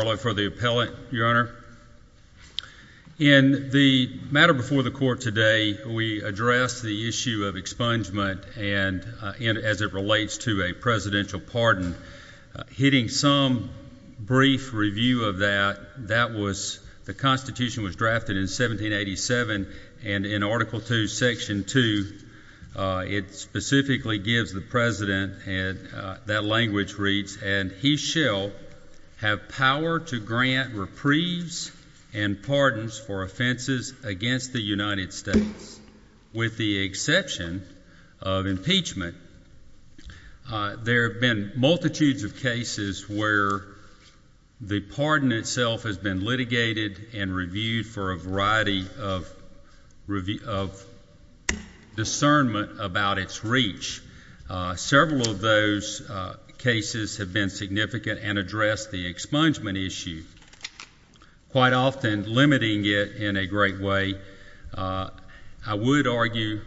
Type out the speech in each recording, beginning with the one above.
Marlow for the appellate, your honor. In the matter before the court today, we addressed the issue of expungement and as it relates to a presidential pardon. Hitting some brief review of that, that was, the constitution was drafted in 1787 and in article two, section two, it specifically gives the president, that language reads, and he shall have power to grant reprieves and pardons for offenses against the United States with the exception of impeachment. There have been multitudes of cases where the pardon itself has been and reviewed for a variety of discernment about its reach. Several of those cases have been significant and addressed the expungement issue, quite often limiting it in a great way. I would argue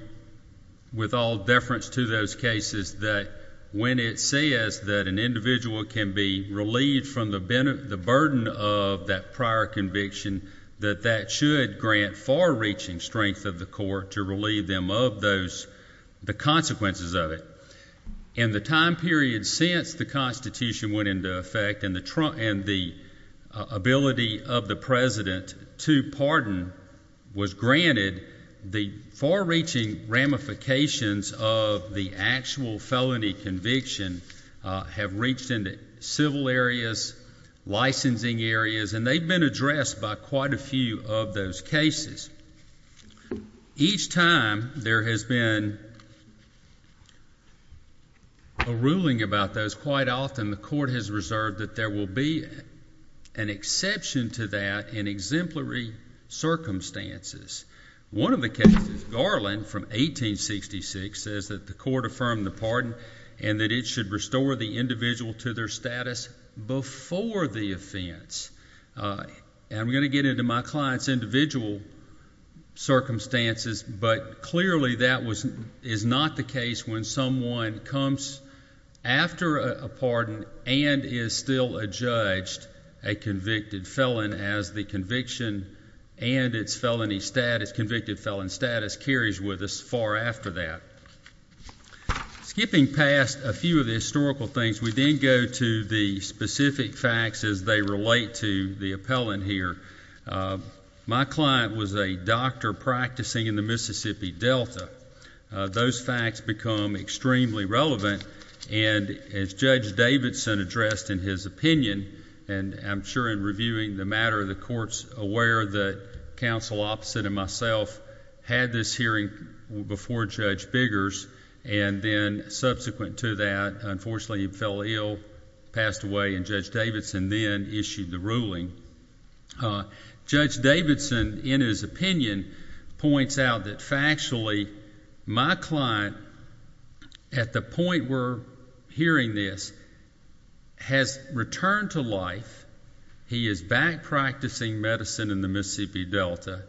with all deference to those cases that when it says that an individual can be relieved from the burden of that prior conviction, that that should grant far-reaching strength of the court to relieve them of the consequences of it. In the time period since the constitution went into effect and the ability of the president to pardon was granted, the far-reaching ramifications of the actual felony conviction have reached into civil areas, licensing areas, and they've been addressed by quite a few of those cases. Each time there has been a ruling about those, quite often the court has reserved that there will be an exception to that in exemplary circumstances. One of the cases, Garland from 1866, says that the court affirmed the pardon and that it should restore the individual to their status before the offense. I'm going to get into my client's individual circumstances, but clearly that is not the case when someone comes after a pardon and is still adjudged a convicted felon as the conviction and its convicted felon status carries with us far after that. Skipping past a few of the historical things, we then go to the specific facts as they relate to the appellant here. My client was a doctor practicing in the Mississippi Delta. Those facts become extremely relevant, and as Judge Davidson addressed in his opinion, and I'm sure in reviewing the matter, the court's aware that counsel opposite of myself had this hearing before Judge Biggers, and then subsequent to that, unfortunately, he fell ill, passed away, and Judge Davidson then issued the ruling. Judge Davidson, in his opinion, points out that factually, my client, at the point we're hearing this, has returned to life. He is back practicing medicine in the Mississippi Delta.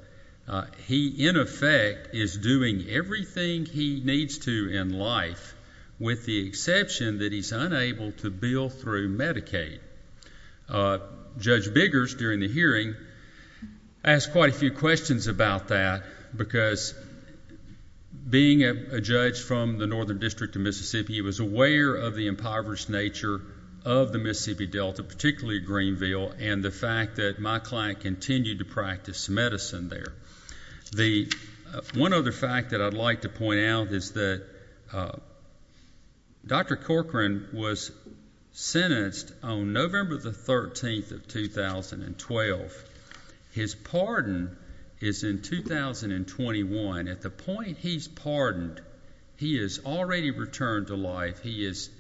He, in effect, is doing everything he needs to in life, with the exception that he's unable to bill through Medicaid. Judge Biggers, during the hearing, asked quite a few questions about that, because being a judge from the Northern District of Mississippi, he was aware of the impoverished nature of the Mississippi Delta, particularly Greenville, and the fact that my client continued to practice medicine there. One other fact that I'd like to point out is that Dr. Corcoran was sentenced on November the 13th of 2012. His pardon is in 2021. At the point he's pardoned, he has already returned to life. He is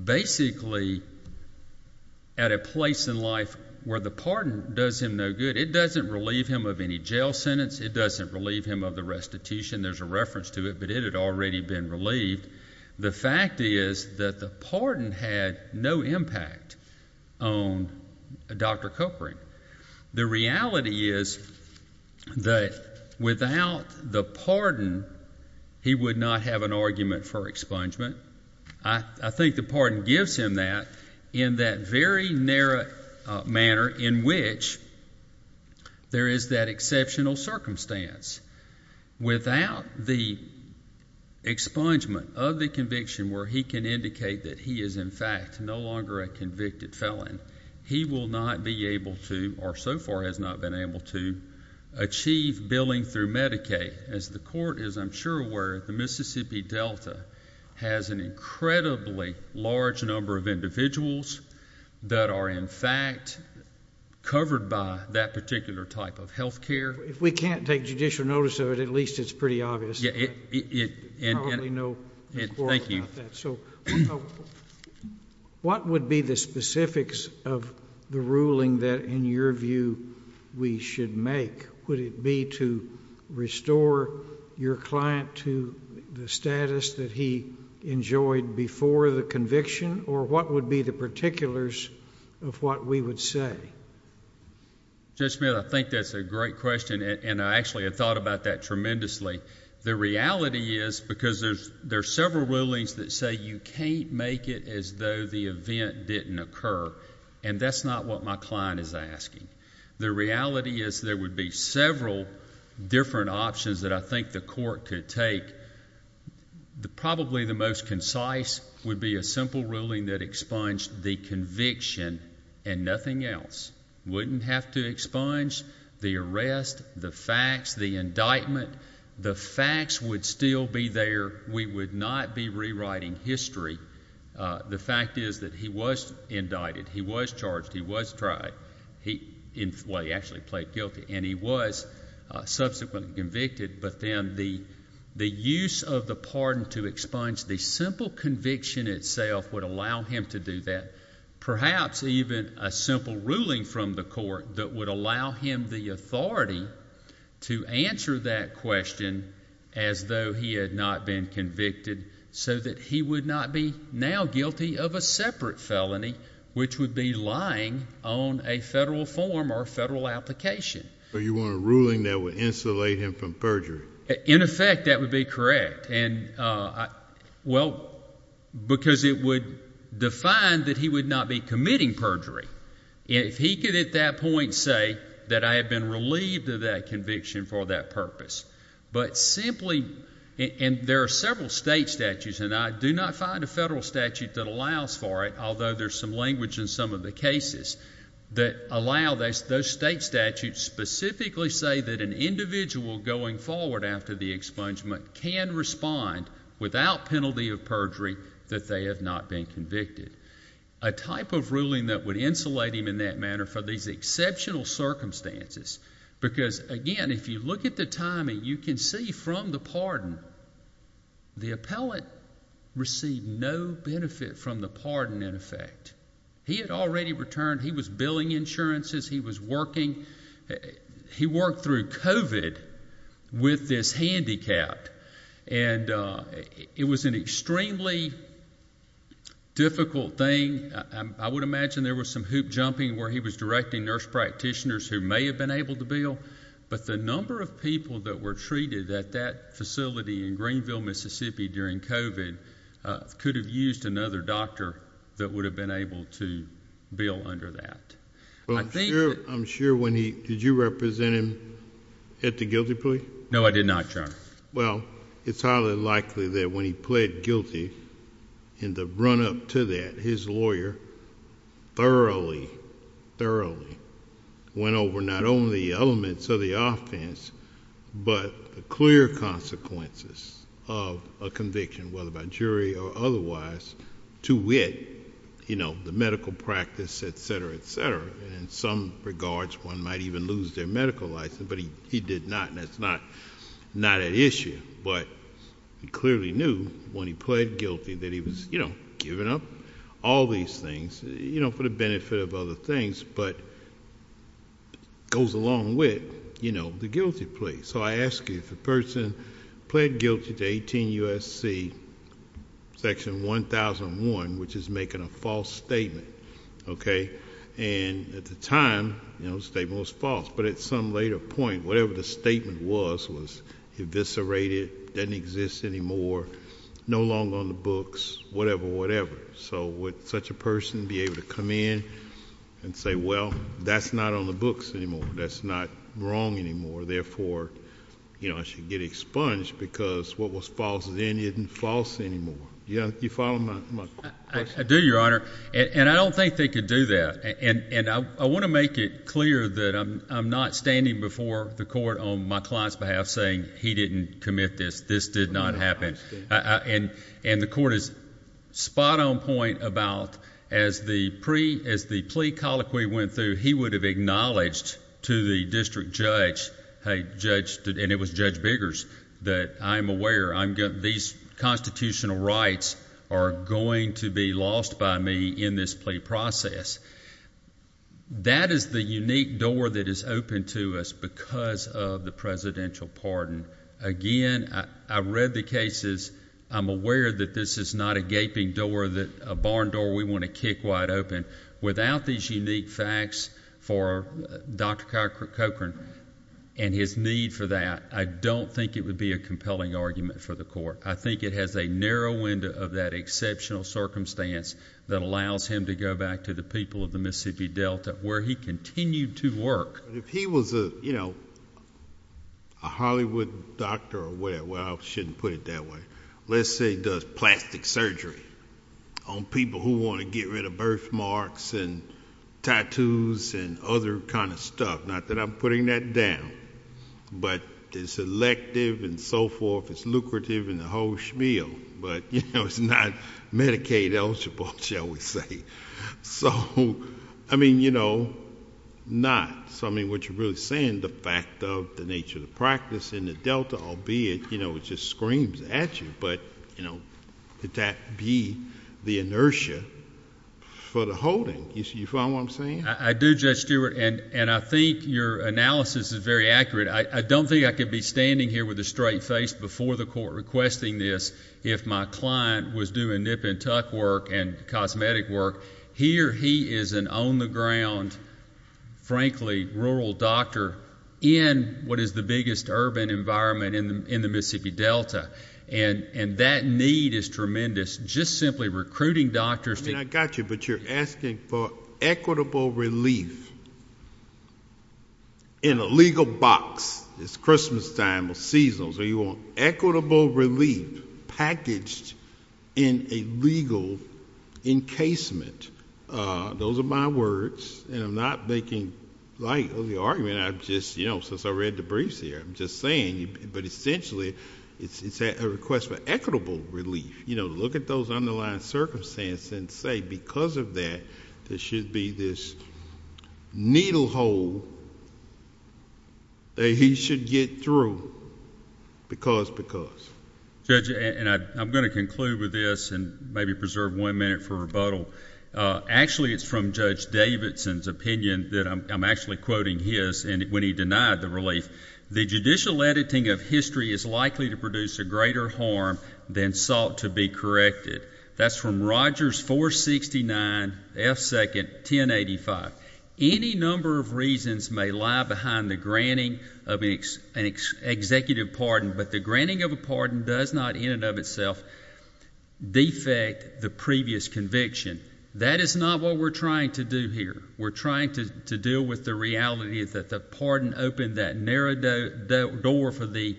basically at a place in life where the pardon does him no good. It doesn't relieve him of any jail sentence. It doesn't relieve him of the restitution. There's a reference to it, but it had already been relieved. The fact is that the pardon had no impact on Dr. Corcoran. The reality is that without the pardon, he would not have an argument for expungement. I think the pardon gives him that in that very narrow manner in which there is that exceptional circumstance. Without the expungement of the conviction where he can indicate that he is, in fact, no longer a convicted felon, he will not be able to, or so far has not been able to, achieve billing through Medicaid. As the court is, I'm sure, aware, the Mississippi Delta has an incredibly large number of individuals that are, in fact, covered by that particular type of health care. If we can't take judicial notice of it, at least it's pretty obvious. Yeah. Thank you. So what would be the specifics of the ruling that, in your view, we should make? Would it be to restore your client to the status that he enjoyed before the conviction? Or what would be the particulars of what we would say? Judge Smith, I think that's a great question, and I actually have thought about that tremendously. The reality is, because there's several rulings that say you can't make it as though the event didn't occur, and that's not what my client is asking. The reality is there would be several different options that I think the court could take. Probably the most concise would be a simple conviction and nothing else. Wouldn't have to expunge the arrest, the facts, the indictment. The facts would still be there. We would not be rewriting history. The fact is that he was indicted. He was charged. He was tried. Well, he actually pled guilty, and he was subsequently convicted. But then the use of the pardon to expunge the simple conviction itself would allow him to do that. Perhaps even a simple ruling from the court that would allow him the authority to answer that question as though he had not been convicted so that he would not be now guilty of a separate felony, which would be lying on a federal form or federal application. So you want a ruling that would insulate him from perjury? In effect, that would be correct. And, well, because it would define that he would not be committing perjury. If he could at that point say that I had been relieved of that conviction for that purpose. But simply, and there are several state statutes, and I do not find a federal statute that allows for it, although there's some language in some of the cases that allow those state statutes specifically say that an individual going forward after the expungement can respond without penalty of perjury that they have not been convicted. A type of ruling that would insulate him in that manner for these exceptional circumstances. Because, again, if you look at the timing, you can see from the pardon, the appellate received no benefit from the pardon, in effect. He had already returned. He was billing insurances. He was working. He worked through COVID with this handicap. And it was an extremely difficult thing. I would imagine there was some hoop jumping where he was directing nurse practitioners who may have been able to bill. But the number of people that were treated at that facility in Greenville, Mississippi during COVID could have used another doctor that would have been able to bill under that. I'm sure when he, did you represent him at the guilty plea? No, I did not, Your Honor. Well, it's highly likely that when he pled guilty in the run-up to that, his lawyer thoroughly, thoroughly went over not only elements of the offense, but the clear consequences of a conviction, whether by jury or otherwise, to wit, you know, the medical practice, et cetera, et cetera. And in some regards, one might even lose their medical license. But he did not. And that's not an issue. But he clearly knew when he pled guilty that he was, you know, giving up all these things, you know, for the benefit of other things, but goes along with, you know, the guilty plea. So I ask you, if a person pled guilty to 18 U.S.C. section 1001, which is making a false statement, okay, and at the time, you know, the statement was false, but at some later point, whatever the statement was, was eviscerated, doesn't exist anymore, no longer on the books, whatever, so would such a person be able to come in and say, well, that's not on the books anymore, that's not wrong anymore, therefore, you know, I should get expunged because what was false then isn't false anymore. Do you follow my question? I do, Your Honor. And I don't think they could do that. And I want to make it clear that I'm not standing before the court on my client's behalf saying he didn't commit this, this did not happen. And the court is spot on point about, as the plea colloquy went through, he would have acknowledged to the district judge, hey, Judge, and it was Judge Biggers, that I'm aware, these constitutional rights are going to be lost by me in this plea process. That is the unique door that is open to us because of the presidential pardon. Again, I've read the cases, I'm aware that this is not a gaping door, a barn door we want to kick wide open. Without these unique facts for Dr. Cochran and his need for that, I don't think it would be a compelling argument for the court. I think it has a narrow window of that exceptional circumstance that allows him to go back to the people of the a Hollywood doctor or whatever. Well, I shouldn't put it that way. Let's say he does plastic surgery on people who want to get rid of birthmarks and tattoos and other kind of stuff. Not that I'm putting that down, but it's elective and so forth. It's lucrative and a whole schmeal, but, you know, it's not Medicaid eligible, shall we say. So, I mean, you know, not. So, I mean, what you're really saying, the fact of the nature of the practice in the Delta, albeit, you know, it just screams at you, but, you know, could that be the inertia for the holding? You follow what I'm saying? I do, Judge Stewart, and I think your analysis is very accurate. I don't think I could be standing here with a straight face before the court requesting this if my client was doing nip and tuck work and cosmetic work here. He is an on the ground, frankly, rural doctor in what is the biggest urban environment in the Mississippi Delta, and that need is tremendous. Just simply recruiting doctors. I mean, I got you, but you're asking for equitable relief in a legal box. It's Christmas time of season, so you want equitable relief packaged in a legal encasement. Those are my words, and I'm not making light of the argument. I'm just, you know, since I read the briefs here, I'm just saying, but essentially, it's a request for equitable relief. You know, look at those underlying circumstances and say because of that, there should be this needle hole that he should get through because, because. Judge, and I'm going to conclude with this and maybe preserve one minute for rebuttal. Actually, it's from Judge Davidson's opinion that I'm actually quoting his, and when he denied the relief, the judicial editing of history is likely to produce a greater harm than sought to be corrected. That's from Rogers 469 F. Second 1085. Any number of reasons may lie behind the granting of an executive pardon, but the granting of a pardon does not in and of itself defect the previous conviction. That is not what we're trying to do here. We're trying to deal with the reality that the pardon opened that narrow door for the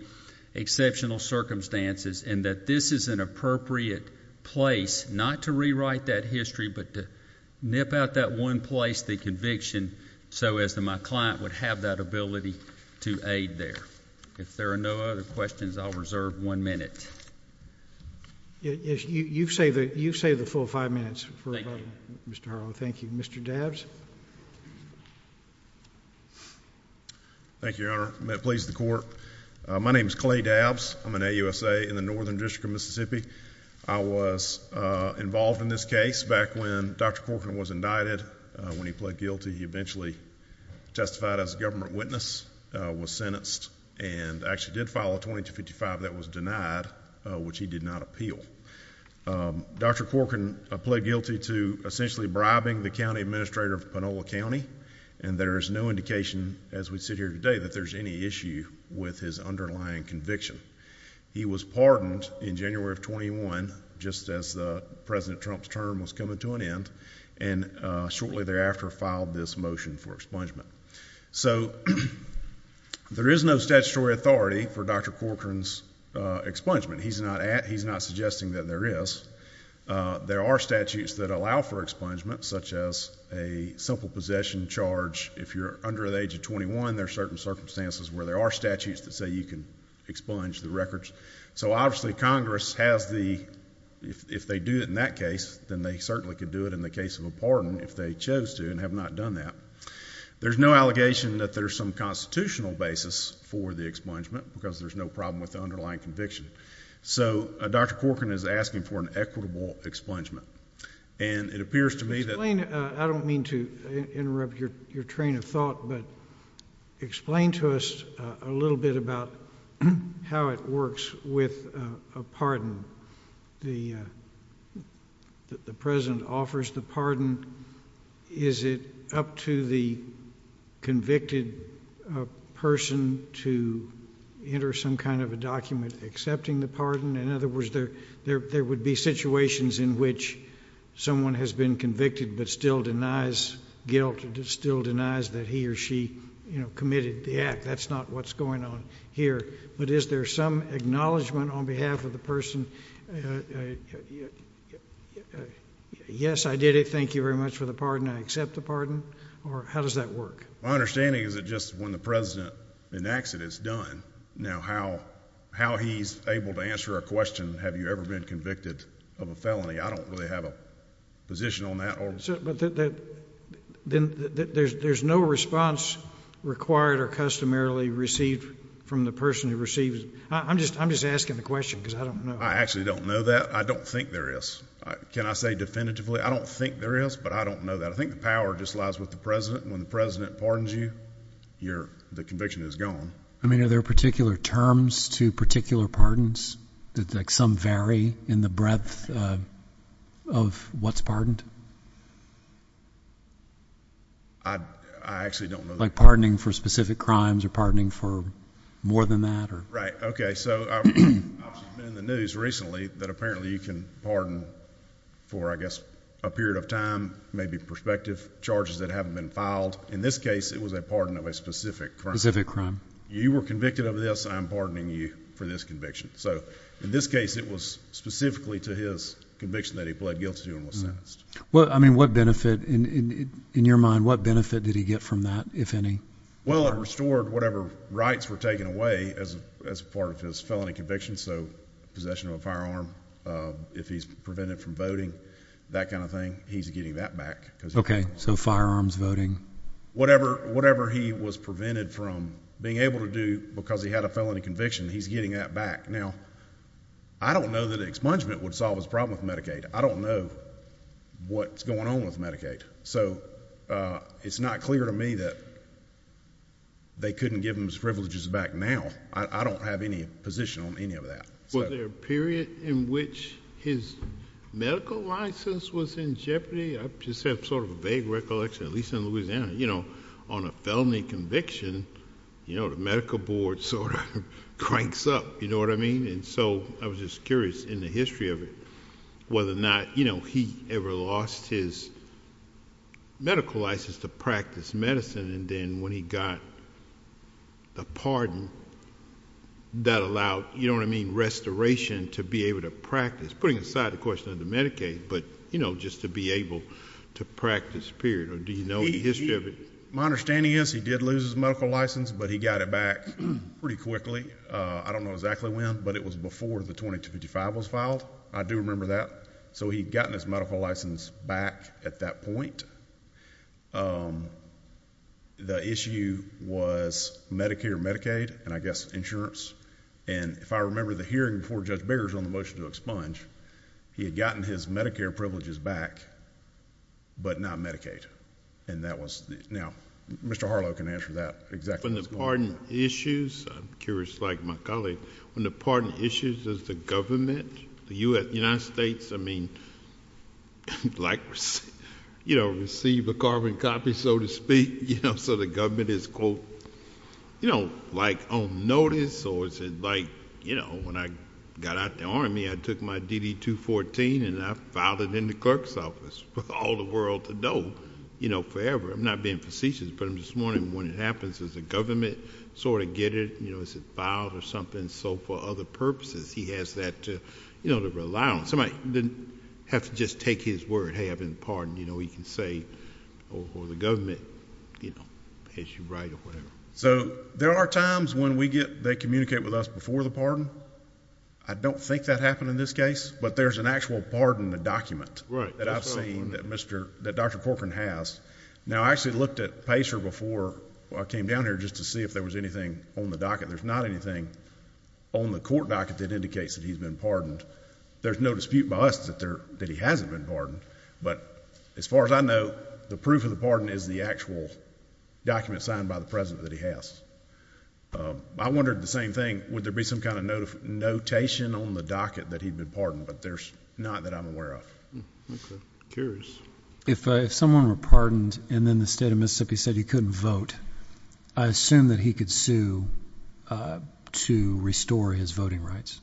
exceptional circumstances and that this is an appropriate place not to rewrite that history, but to nip out that one place, the conviction, so as my client would have that ability to aid there. If there are no other questions, I'll reserve one minute. You've saved a full five minutes for rebuttal, Mr. Harlow. Thank you. Mr. Dabbs. Thank you, Your Honor. May it please the Court. My name is Clay Dabbs. I'm an AUSA in the Northern District of Mississippi. I was involved in this case back when Dr. Corcoran was indicted. When he pled guilty, he eventually testified as a government witness, was sentenced, and actually did file a 2255 that was denied, which he did not appeal. Dr. Corcoran pled guilty to essentially bribing the county administrator of Panola County, and there is no indication as we sit here today that there's any issue with his underlying conviction. He was pardoned in January of 21, just as President Trump's term was coming to an end, and shortly thereafter filed this motion for expungement. So there is no statutory authority for Dr. Corcoran's expungement. He's not suggesting that there is. There are statutes that allow for expungement, such as a simple possession charge if you're under the age of 21. There are certain circumstances where there are statutes that say you can expunge the records. So obviously Congress has the, if they do it in that case, then they certainly could do it in the case of a pardon if they chose to and have not done that. There's no allegation that there's some constitutional basis for the expungement because there's no problem with the underlying conviction. So Dr. Corcoran is asking for an equitable expungement, and it appears to me that- Explain, I don't mean to interrupt your train of thought, but explain to us a little bit about how it works with a pardon. The president offers the pardon. Is it up to the convicted person to enter some kind of a document accepting the pardon? In other words, there would be situations in which someone has been convicted but still denies guilt and still denies that he or she committed the act. That's not what's going on here. But is there some acknowledgement on behalf of the person, yes, I did it, thank you very much for the pardon, I accept the pardon? Or how does that work? My understanding is that just when the president enacts it, it's done. Now how he's able to answer a question, have you ever been convicted of a felony? I don't really have a position on that. But there's no response required or customarily received from the person who receives it? I'm just asking the question because I don't know. I actually don't know that. I don't think there is. Can I say definitively? I don't think there is, but I don't know that. I think the power just lies with the president. When the president pardons you, the conviction is gone. I mean, are there particular terms to particular pardons that some vary in the breadth of what's pardoned? I actually don't know. Like pardoning for specific crimes or pardoning for more than that? Right, okay, so I've been in the news recently that apparently you can pardon for, I guess, a period of time, maybe prospective charges that haven't been filed. In this case, it was a pardon of a specific crime. You were convicted of this, I'm pardoning you for this conviction. So in this case, it was specifically to his conviction that he pled guilty to and was sentenced. Well, I mean, what benefit, in your mind, what benefit did he get from that, if any? Well, it restored whatever rights were taken away as part of his felony conviction. So possession of a firearm, if he's prevented from voting, that kind of thing, he's getting that back. Okay, so firearms, voting? Whatever he was prevented from being able to do because he had a felony conviction, he's getting that back. Now, I don't know that expungement would solve his problem with Medicaid. I don't know what's going on with Medicaid. So it's not clear to me that they couldn't give him his privileges back now. I don't have any position on any of that. Was there a period in which his medical license was in jeopardy? I just have sort of a vague recollection, at least in Louisiana, on a felony conviction, the medical board sort of cranks up, you know what I mean? And so I was just curious in the history of it, whether or not he ever lost his medical license to practice medicine. And then when he got a pardon, that allowed, you know what I mean, restoration to be able to practice, putting aside the question of the Medicaid, but just to be able to practice, period. Or do you know the history of it? My understanding is he did lose his medical license, but he got it back pretty quickly. I don't know exactly when, but it was before the 2255 was filed. I do remember that. So he'd gotten his medical license back at that point. The issue was Medicare, Medicaid, and I guess insurance. And if I remember the hearing before Judge Biggers on the motion to expunge, he had gotten his Medicare privileges back, but not Medicaid. And that was, now, Mr. Harlow can answer that exactly. When the pardon issues, I'm curious, like my colleague, when the pardon issues, does the government, the United States, I mean, like, you know, receive a carbon copy, so to speak, so the government is, quote, you know, like, on notice, or is it like, you know, when I got out the Army, I took my DD-214 and I filed it in the clerk's office for all the world to know, you know, forever. I'm not being facetious, but this morning, when it happens, does the government sort of get it, you know, is it filed or something, so for other purposes, he has that to, you know, to rely on. Somebody didn't have to just take his word, hey, I've been pardoned, you know, he can say, or the government, you know, has you right or whatever. So, there are times when we get, they communicate with us before the pardon. I don't think that happened in this case, but there's an actual pardon in the document that I've seen that Mr., that Dr. Corcoran has. Now, I actually looked at PACER before I came down here just to see if there was anything on the docket. There's not anything on the court docket that indicates that he's been pardoned. There's no dispute by us that he hasn't been pardoned, but as far as I know, the proof of the pardon is the actual document signed by the president that he has. I wondered the same thing, would there be some kind of notation on the docket that he'd been pardoned, but there's not that I'm aware of. Okay, curious. If someone were pardoned and then the state of Mississippi said he couldn't vote, I assume that he could sue to restore his voting rights.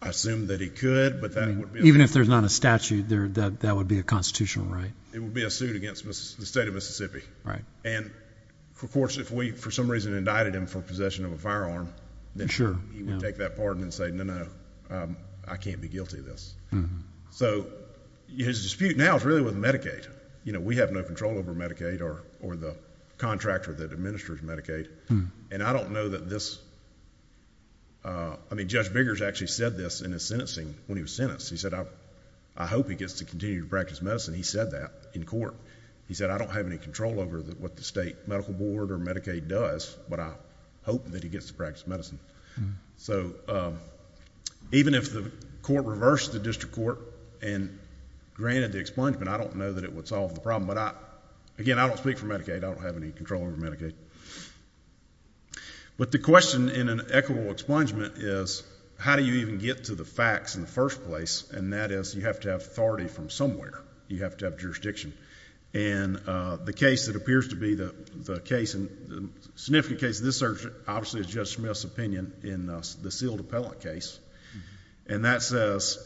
I assume that he could, but that would be a... Even if there's not a statute, that would be a constitutional right. It would be a suit against the state of Mississippi. Right. And of course, if we, for some reason, indicted him for possession of a firearm, then he would take that pardon and say, no, no, I can't be guilty of this. So, his dispute now is really with Medicaid. We have no control over Medicaid or the contractor that administers Medicaid, and I don't know that this... I mean, Judge Biggers actually said this in his sentencing when he was sentenced. He said, I hope he gets to continue to practice medicine. He said that in court. He said, I don't have any control over what the state medical board or Medicaid does, but I hope that he gets to practice medicine. So, even if the court reversed the district court and granted the expungement, I don't know that it would solve the problem, but again, I don't speak for Medicaid. I don't have any control over Medicaid. But the question in an equitable expungement is, how do you even get to the facts in the first place? And that is, you have to have authority from somewhere. You have to have jurisdiction. And the case that appears to be the case, and the significant case of this search, obviously is Judge Smith's opinion in the sealed appellate case. And that says,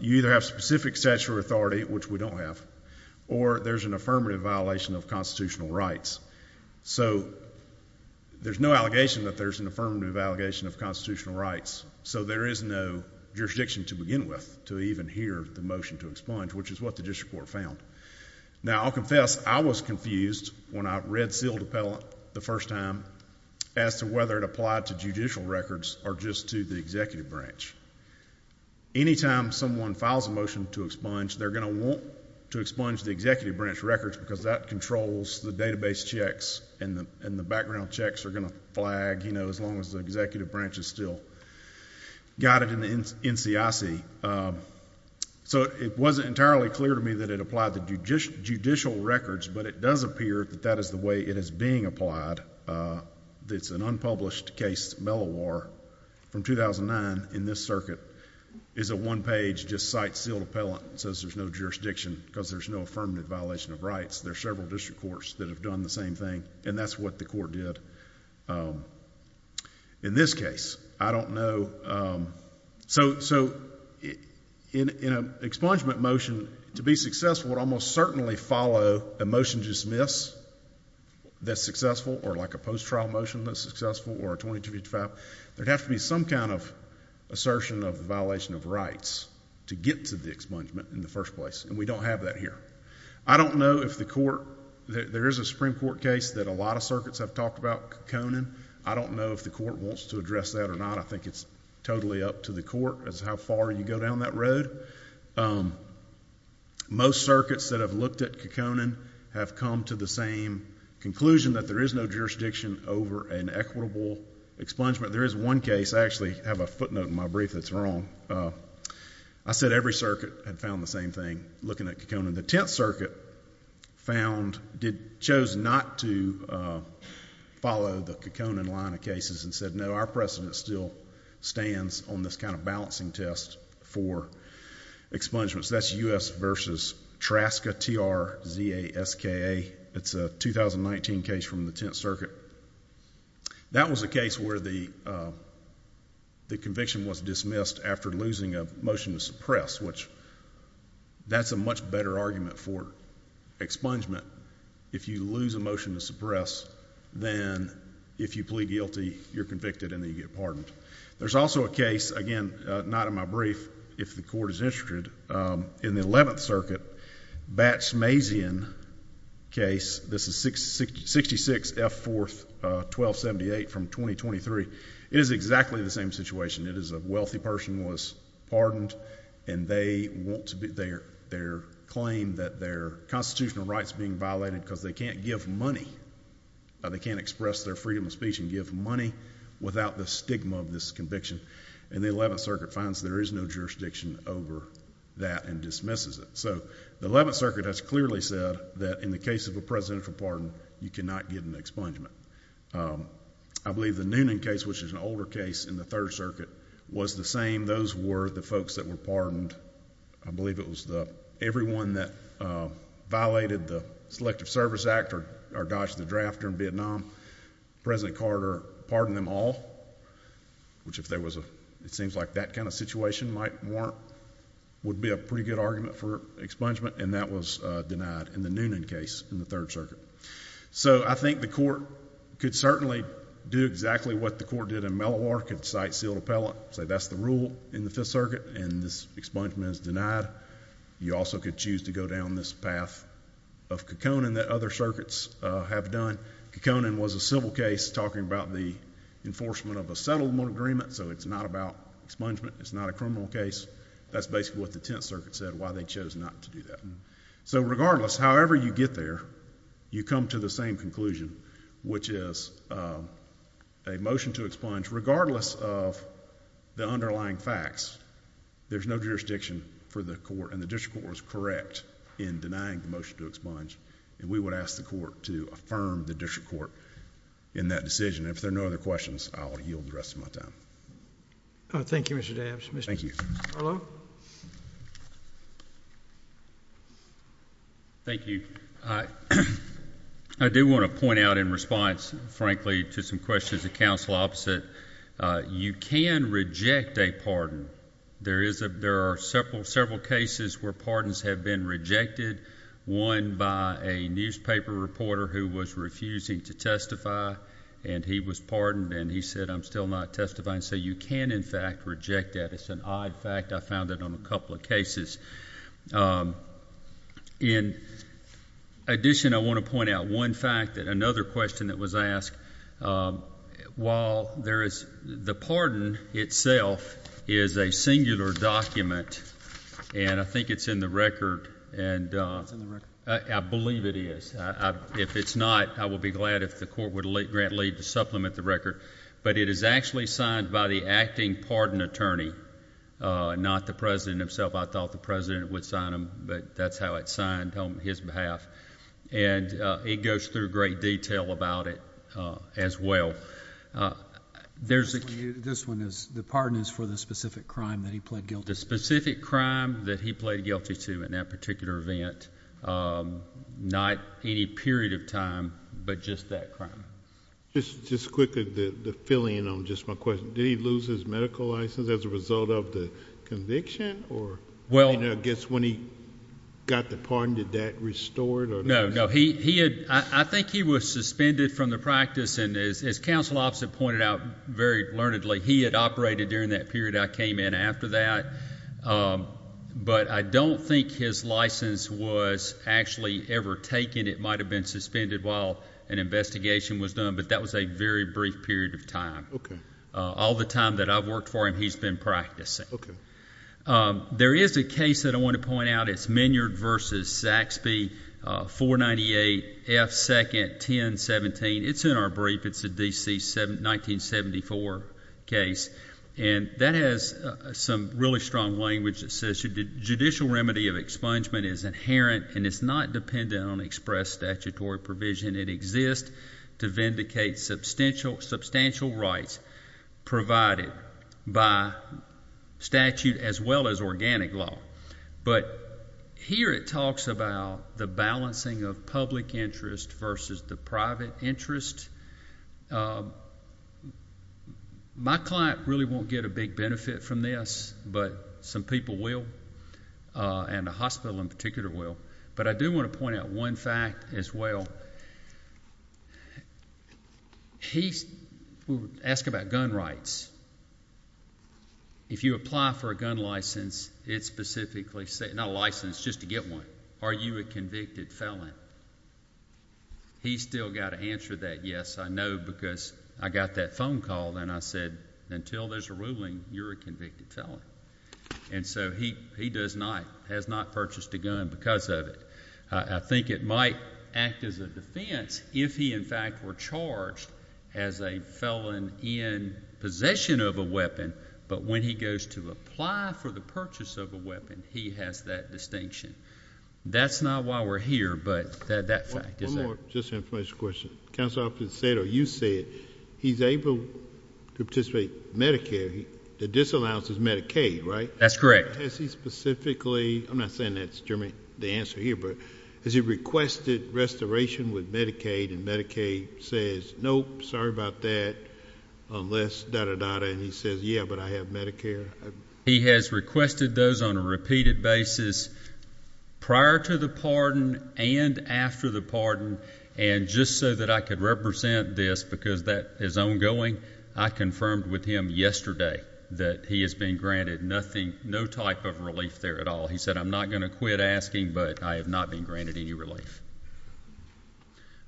you either have specific statutory authority, which we don't have, or there's an affirmative violation of constitutional rights. So, there's no allegation that there's an affirmative allegation of constitutional rights, so there is no jurisdiction to begin with to even hear the motion to expunge, which is what the district court found. Now, I'll confess, I was confused when I read sealed appellate the first time as to whether it applied to judicial records or just to the executive branch. Anytime someone files a motion to expunge, they're going to want to expunge the executive branch records, because that controls the database checks, and the background checks are going to flag as long as the executive branch is still guided in the NCIC. So, it wasn't entirely clear to me that it applied to judicial records, but it does appear that that is the way it is being applied. It's an unpublished case, Mellowar, from 2009 in this circuit, is a one-page, just cite sealed appellate that says there's no jurisdiction, because there's no affirmative violation of rights. There are several district courts that have done the same thing, and that's what the court did in this case. I don't know. So, in an expungement motion, to be successful, it would almost certainly follow a motion to dismiss that's successful, or like a post-trial motion that's successful, or a 2255. There'd have to be some kind of assertion of the violation of rights to get to the expungement in the first place, and we don't have that here. I don't know if the court, there is a Supreme Court case that a lot of circuits have talked about Kekonan. I don't know if the court wants to address that or not. I think it's totally up to the court as to how far you go down that road. Most circuits that have looked at Kekonan have come to the same conclusion that there is no jurisdiction over an equitable expungement. There is one case, I actually have a footnote in my brief that's wrong. I said every circuit had found the same thing looking at Kekonan. The Tenth Circuit found, chose not to follow the Kekonan line of cases and said, no, our precedent still stands on this kind of balancing test for expungements. That's U.S. versus Traska, T-R-Z-A-S-K-A. It's a 2019 case from the Tenth Circuit. That was a case where the conviction was dismissed after losing a motion to suppress, which that's a much better argument for expungement if you lose a motion to suppress than if you plead guilty, you're convicted, and then you get pardoned. There's also a case, again, not in my brief, if the court is interested, in the Eleventh Circuit, Batch-Mazian case. This is 66F4-1278 from 2023. It is exactly the same situation. It is a wealthy person was pardoned, and they claim that their constitutional rights are being violated because they can't give money. They can't express their freedom of speech and give money without the stigma of this conviction. The Eleventh Circuit finds there is no jurisdiction over that and dismisses it. The Eleventh Circuit has clearly said that in the case of a presidential pardon, you cannot give an expungement. I believe the Noonan case, which is an older case in the Third Circuit, was the same. Those were the folks that were pardoned. I believe it was everyone that violated the Selective Service Act or dodged the draft during Vietnam. President Carter pardoned them all, which if there was a... it seems like that kind of situation might warrant... would be a pretty good argument for expungement, and that was denied in the Noonan case in the Third Circuit. So, I think the court could certainly do exactly what the court did in Mellowar. It could cite sealed appellate, say that's the rule in the Fifth Circuit, and this expungement is denied. You also could choose to go down this path of Kekonan that other circuits have done. Kekonan was a civil case talking about the enforcement of a settlement agreement, so it's not about expungement. It's not a criminal case. That's basically what the Tenth Circuit said, why they chose not to do that. So, regardless, however you get there, you come to the same conclusion, which is a motion to expunge regardless of the underlying facts. There's no jurisdiction for the court, and the district court was correct in denying the motion to expunge, and we would ask the court to affirm the district court in that decision. If there are no other questions, I will yield the rest of my time. Thank you, Mr. Dabbs. Thank you. Thank you. I do want to point out in response, frankly, to some questions of counsel opposite, you can reject a pardon. There are several cases where pardons have been rejected, one by a newspaper reporter who was refusing to testify, and he was pardoned, and he said, I'm still not testifying, so you can, in fact, reject that. It's an odd fact. I found it on a couple of cases. In addition, I want to point out one fact that another question that was asked. While there is the pardon itself is a singular document, and I think it's in the record, and I believe it is. If it's not, I will be glad if the court would grant leave to supplement the record, but it is actually signed by the acting pardon attorney, not the president himself. I thought the president would sign them, but that's how it's signed on his behalf, and it goes through great detail about it as well. This one is the pardon is for the specific crime that he pled guilty. The specific crime that he pled guilty to in that particular event, not any period of time, but just that crime. Just quickly, to fill in on just my question, did he lose his medical license as a result of the conviction? I guess when he got the pardon, did that restore it? I think he was suspended from the practice, and as counsel officer pointed out very learnedly, he had operated during that period. I came in after that, but I don't think his license was actually ever taken. It might have been suspended while an investigation was done, but that was a very brief period of time. All the time that I've worked for him, he's been practicing. There is a case that I want to point out. It's Minyard v. Saxby 498 F. 2nd 1017. It's in our brief. It's a DC 1974 case, and that has some really strong language. Judicial remedy of expungement is inherent, and it's not dependent on express statutory provision. It exists to vindicate substantial rights provided by statute as well as organic law. But here it talks about the balancing of public interest versus the private interest. My client really won't get a big benefit from this, but some people will, and the hospital in particular will. But I do want to point out one fact as well. He will ask about gun rights. If you apply for a gun license, it specifically says, not a license, just to get one, are you a convicted felon? He's still got to answer that yes, I know, because I got that phone call, and I said, until there's a ruling, you're a convicted felon. And so he does not, has not purchased a gun because of it. I think it might act as a defense if he, in fact, were charged as a felon in possession of a weapon, but when he goes to apply for the purchase of a weapon, he has that distinction. That's not why we're here, but that fact is there. One more just information question. Counselor, you said he's able to participate in Medicare. The disallowance is Medicaid, right? That's correct. Has he specifically, I'm not saying that's the answer here, but has he requested restoration with Medicaid, and Medicaid says, nope, sorry about that, unless da da da da, and he says, yeah, but I have Medicare? He has requested those on a repeated basis prior to the pardon and after the pardon, and just so that I could represent this, because that is ongoing, I confirmed with him yesterday that he has been granted nothing, no type of relief there at all. He said, I'm not going to quit asking, but I have not been granted any relief.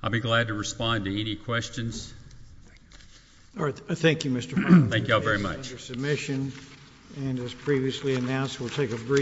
I'll be glad to respond to any questions. All right, thank you, Mr. Brown. Thank you all very much. Your submission, and as previously announced, we'll take a brief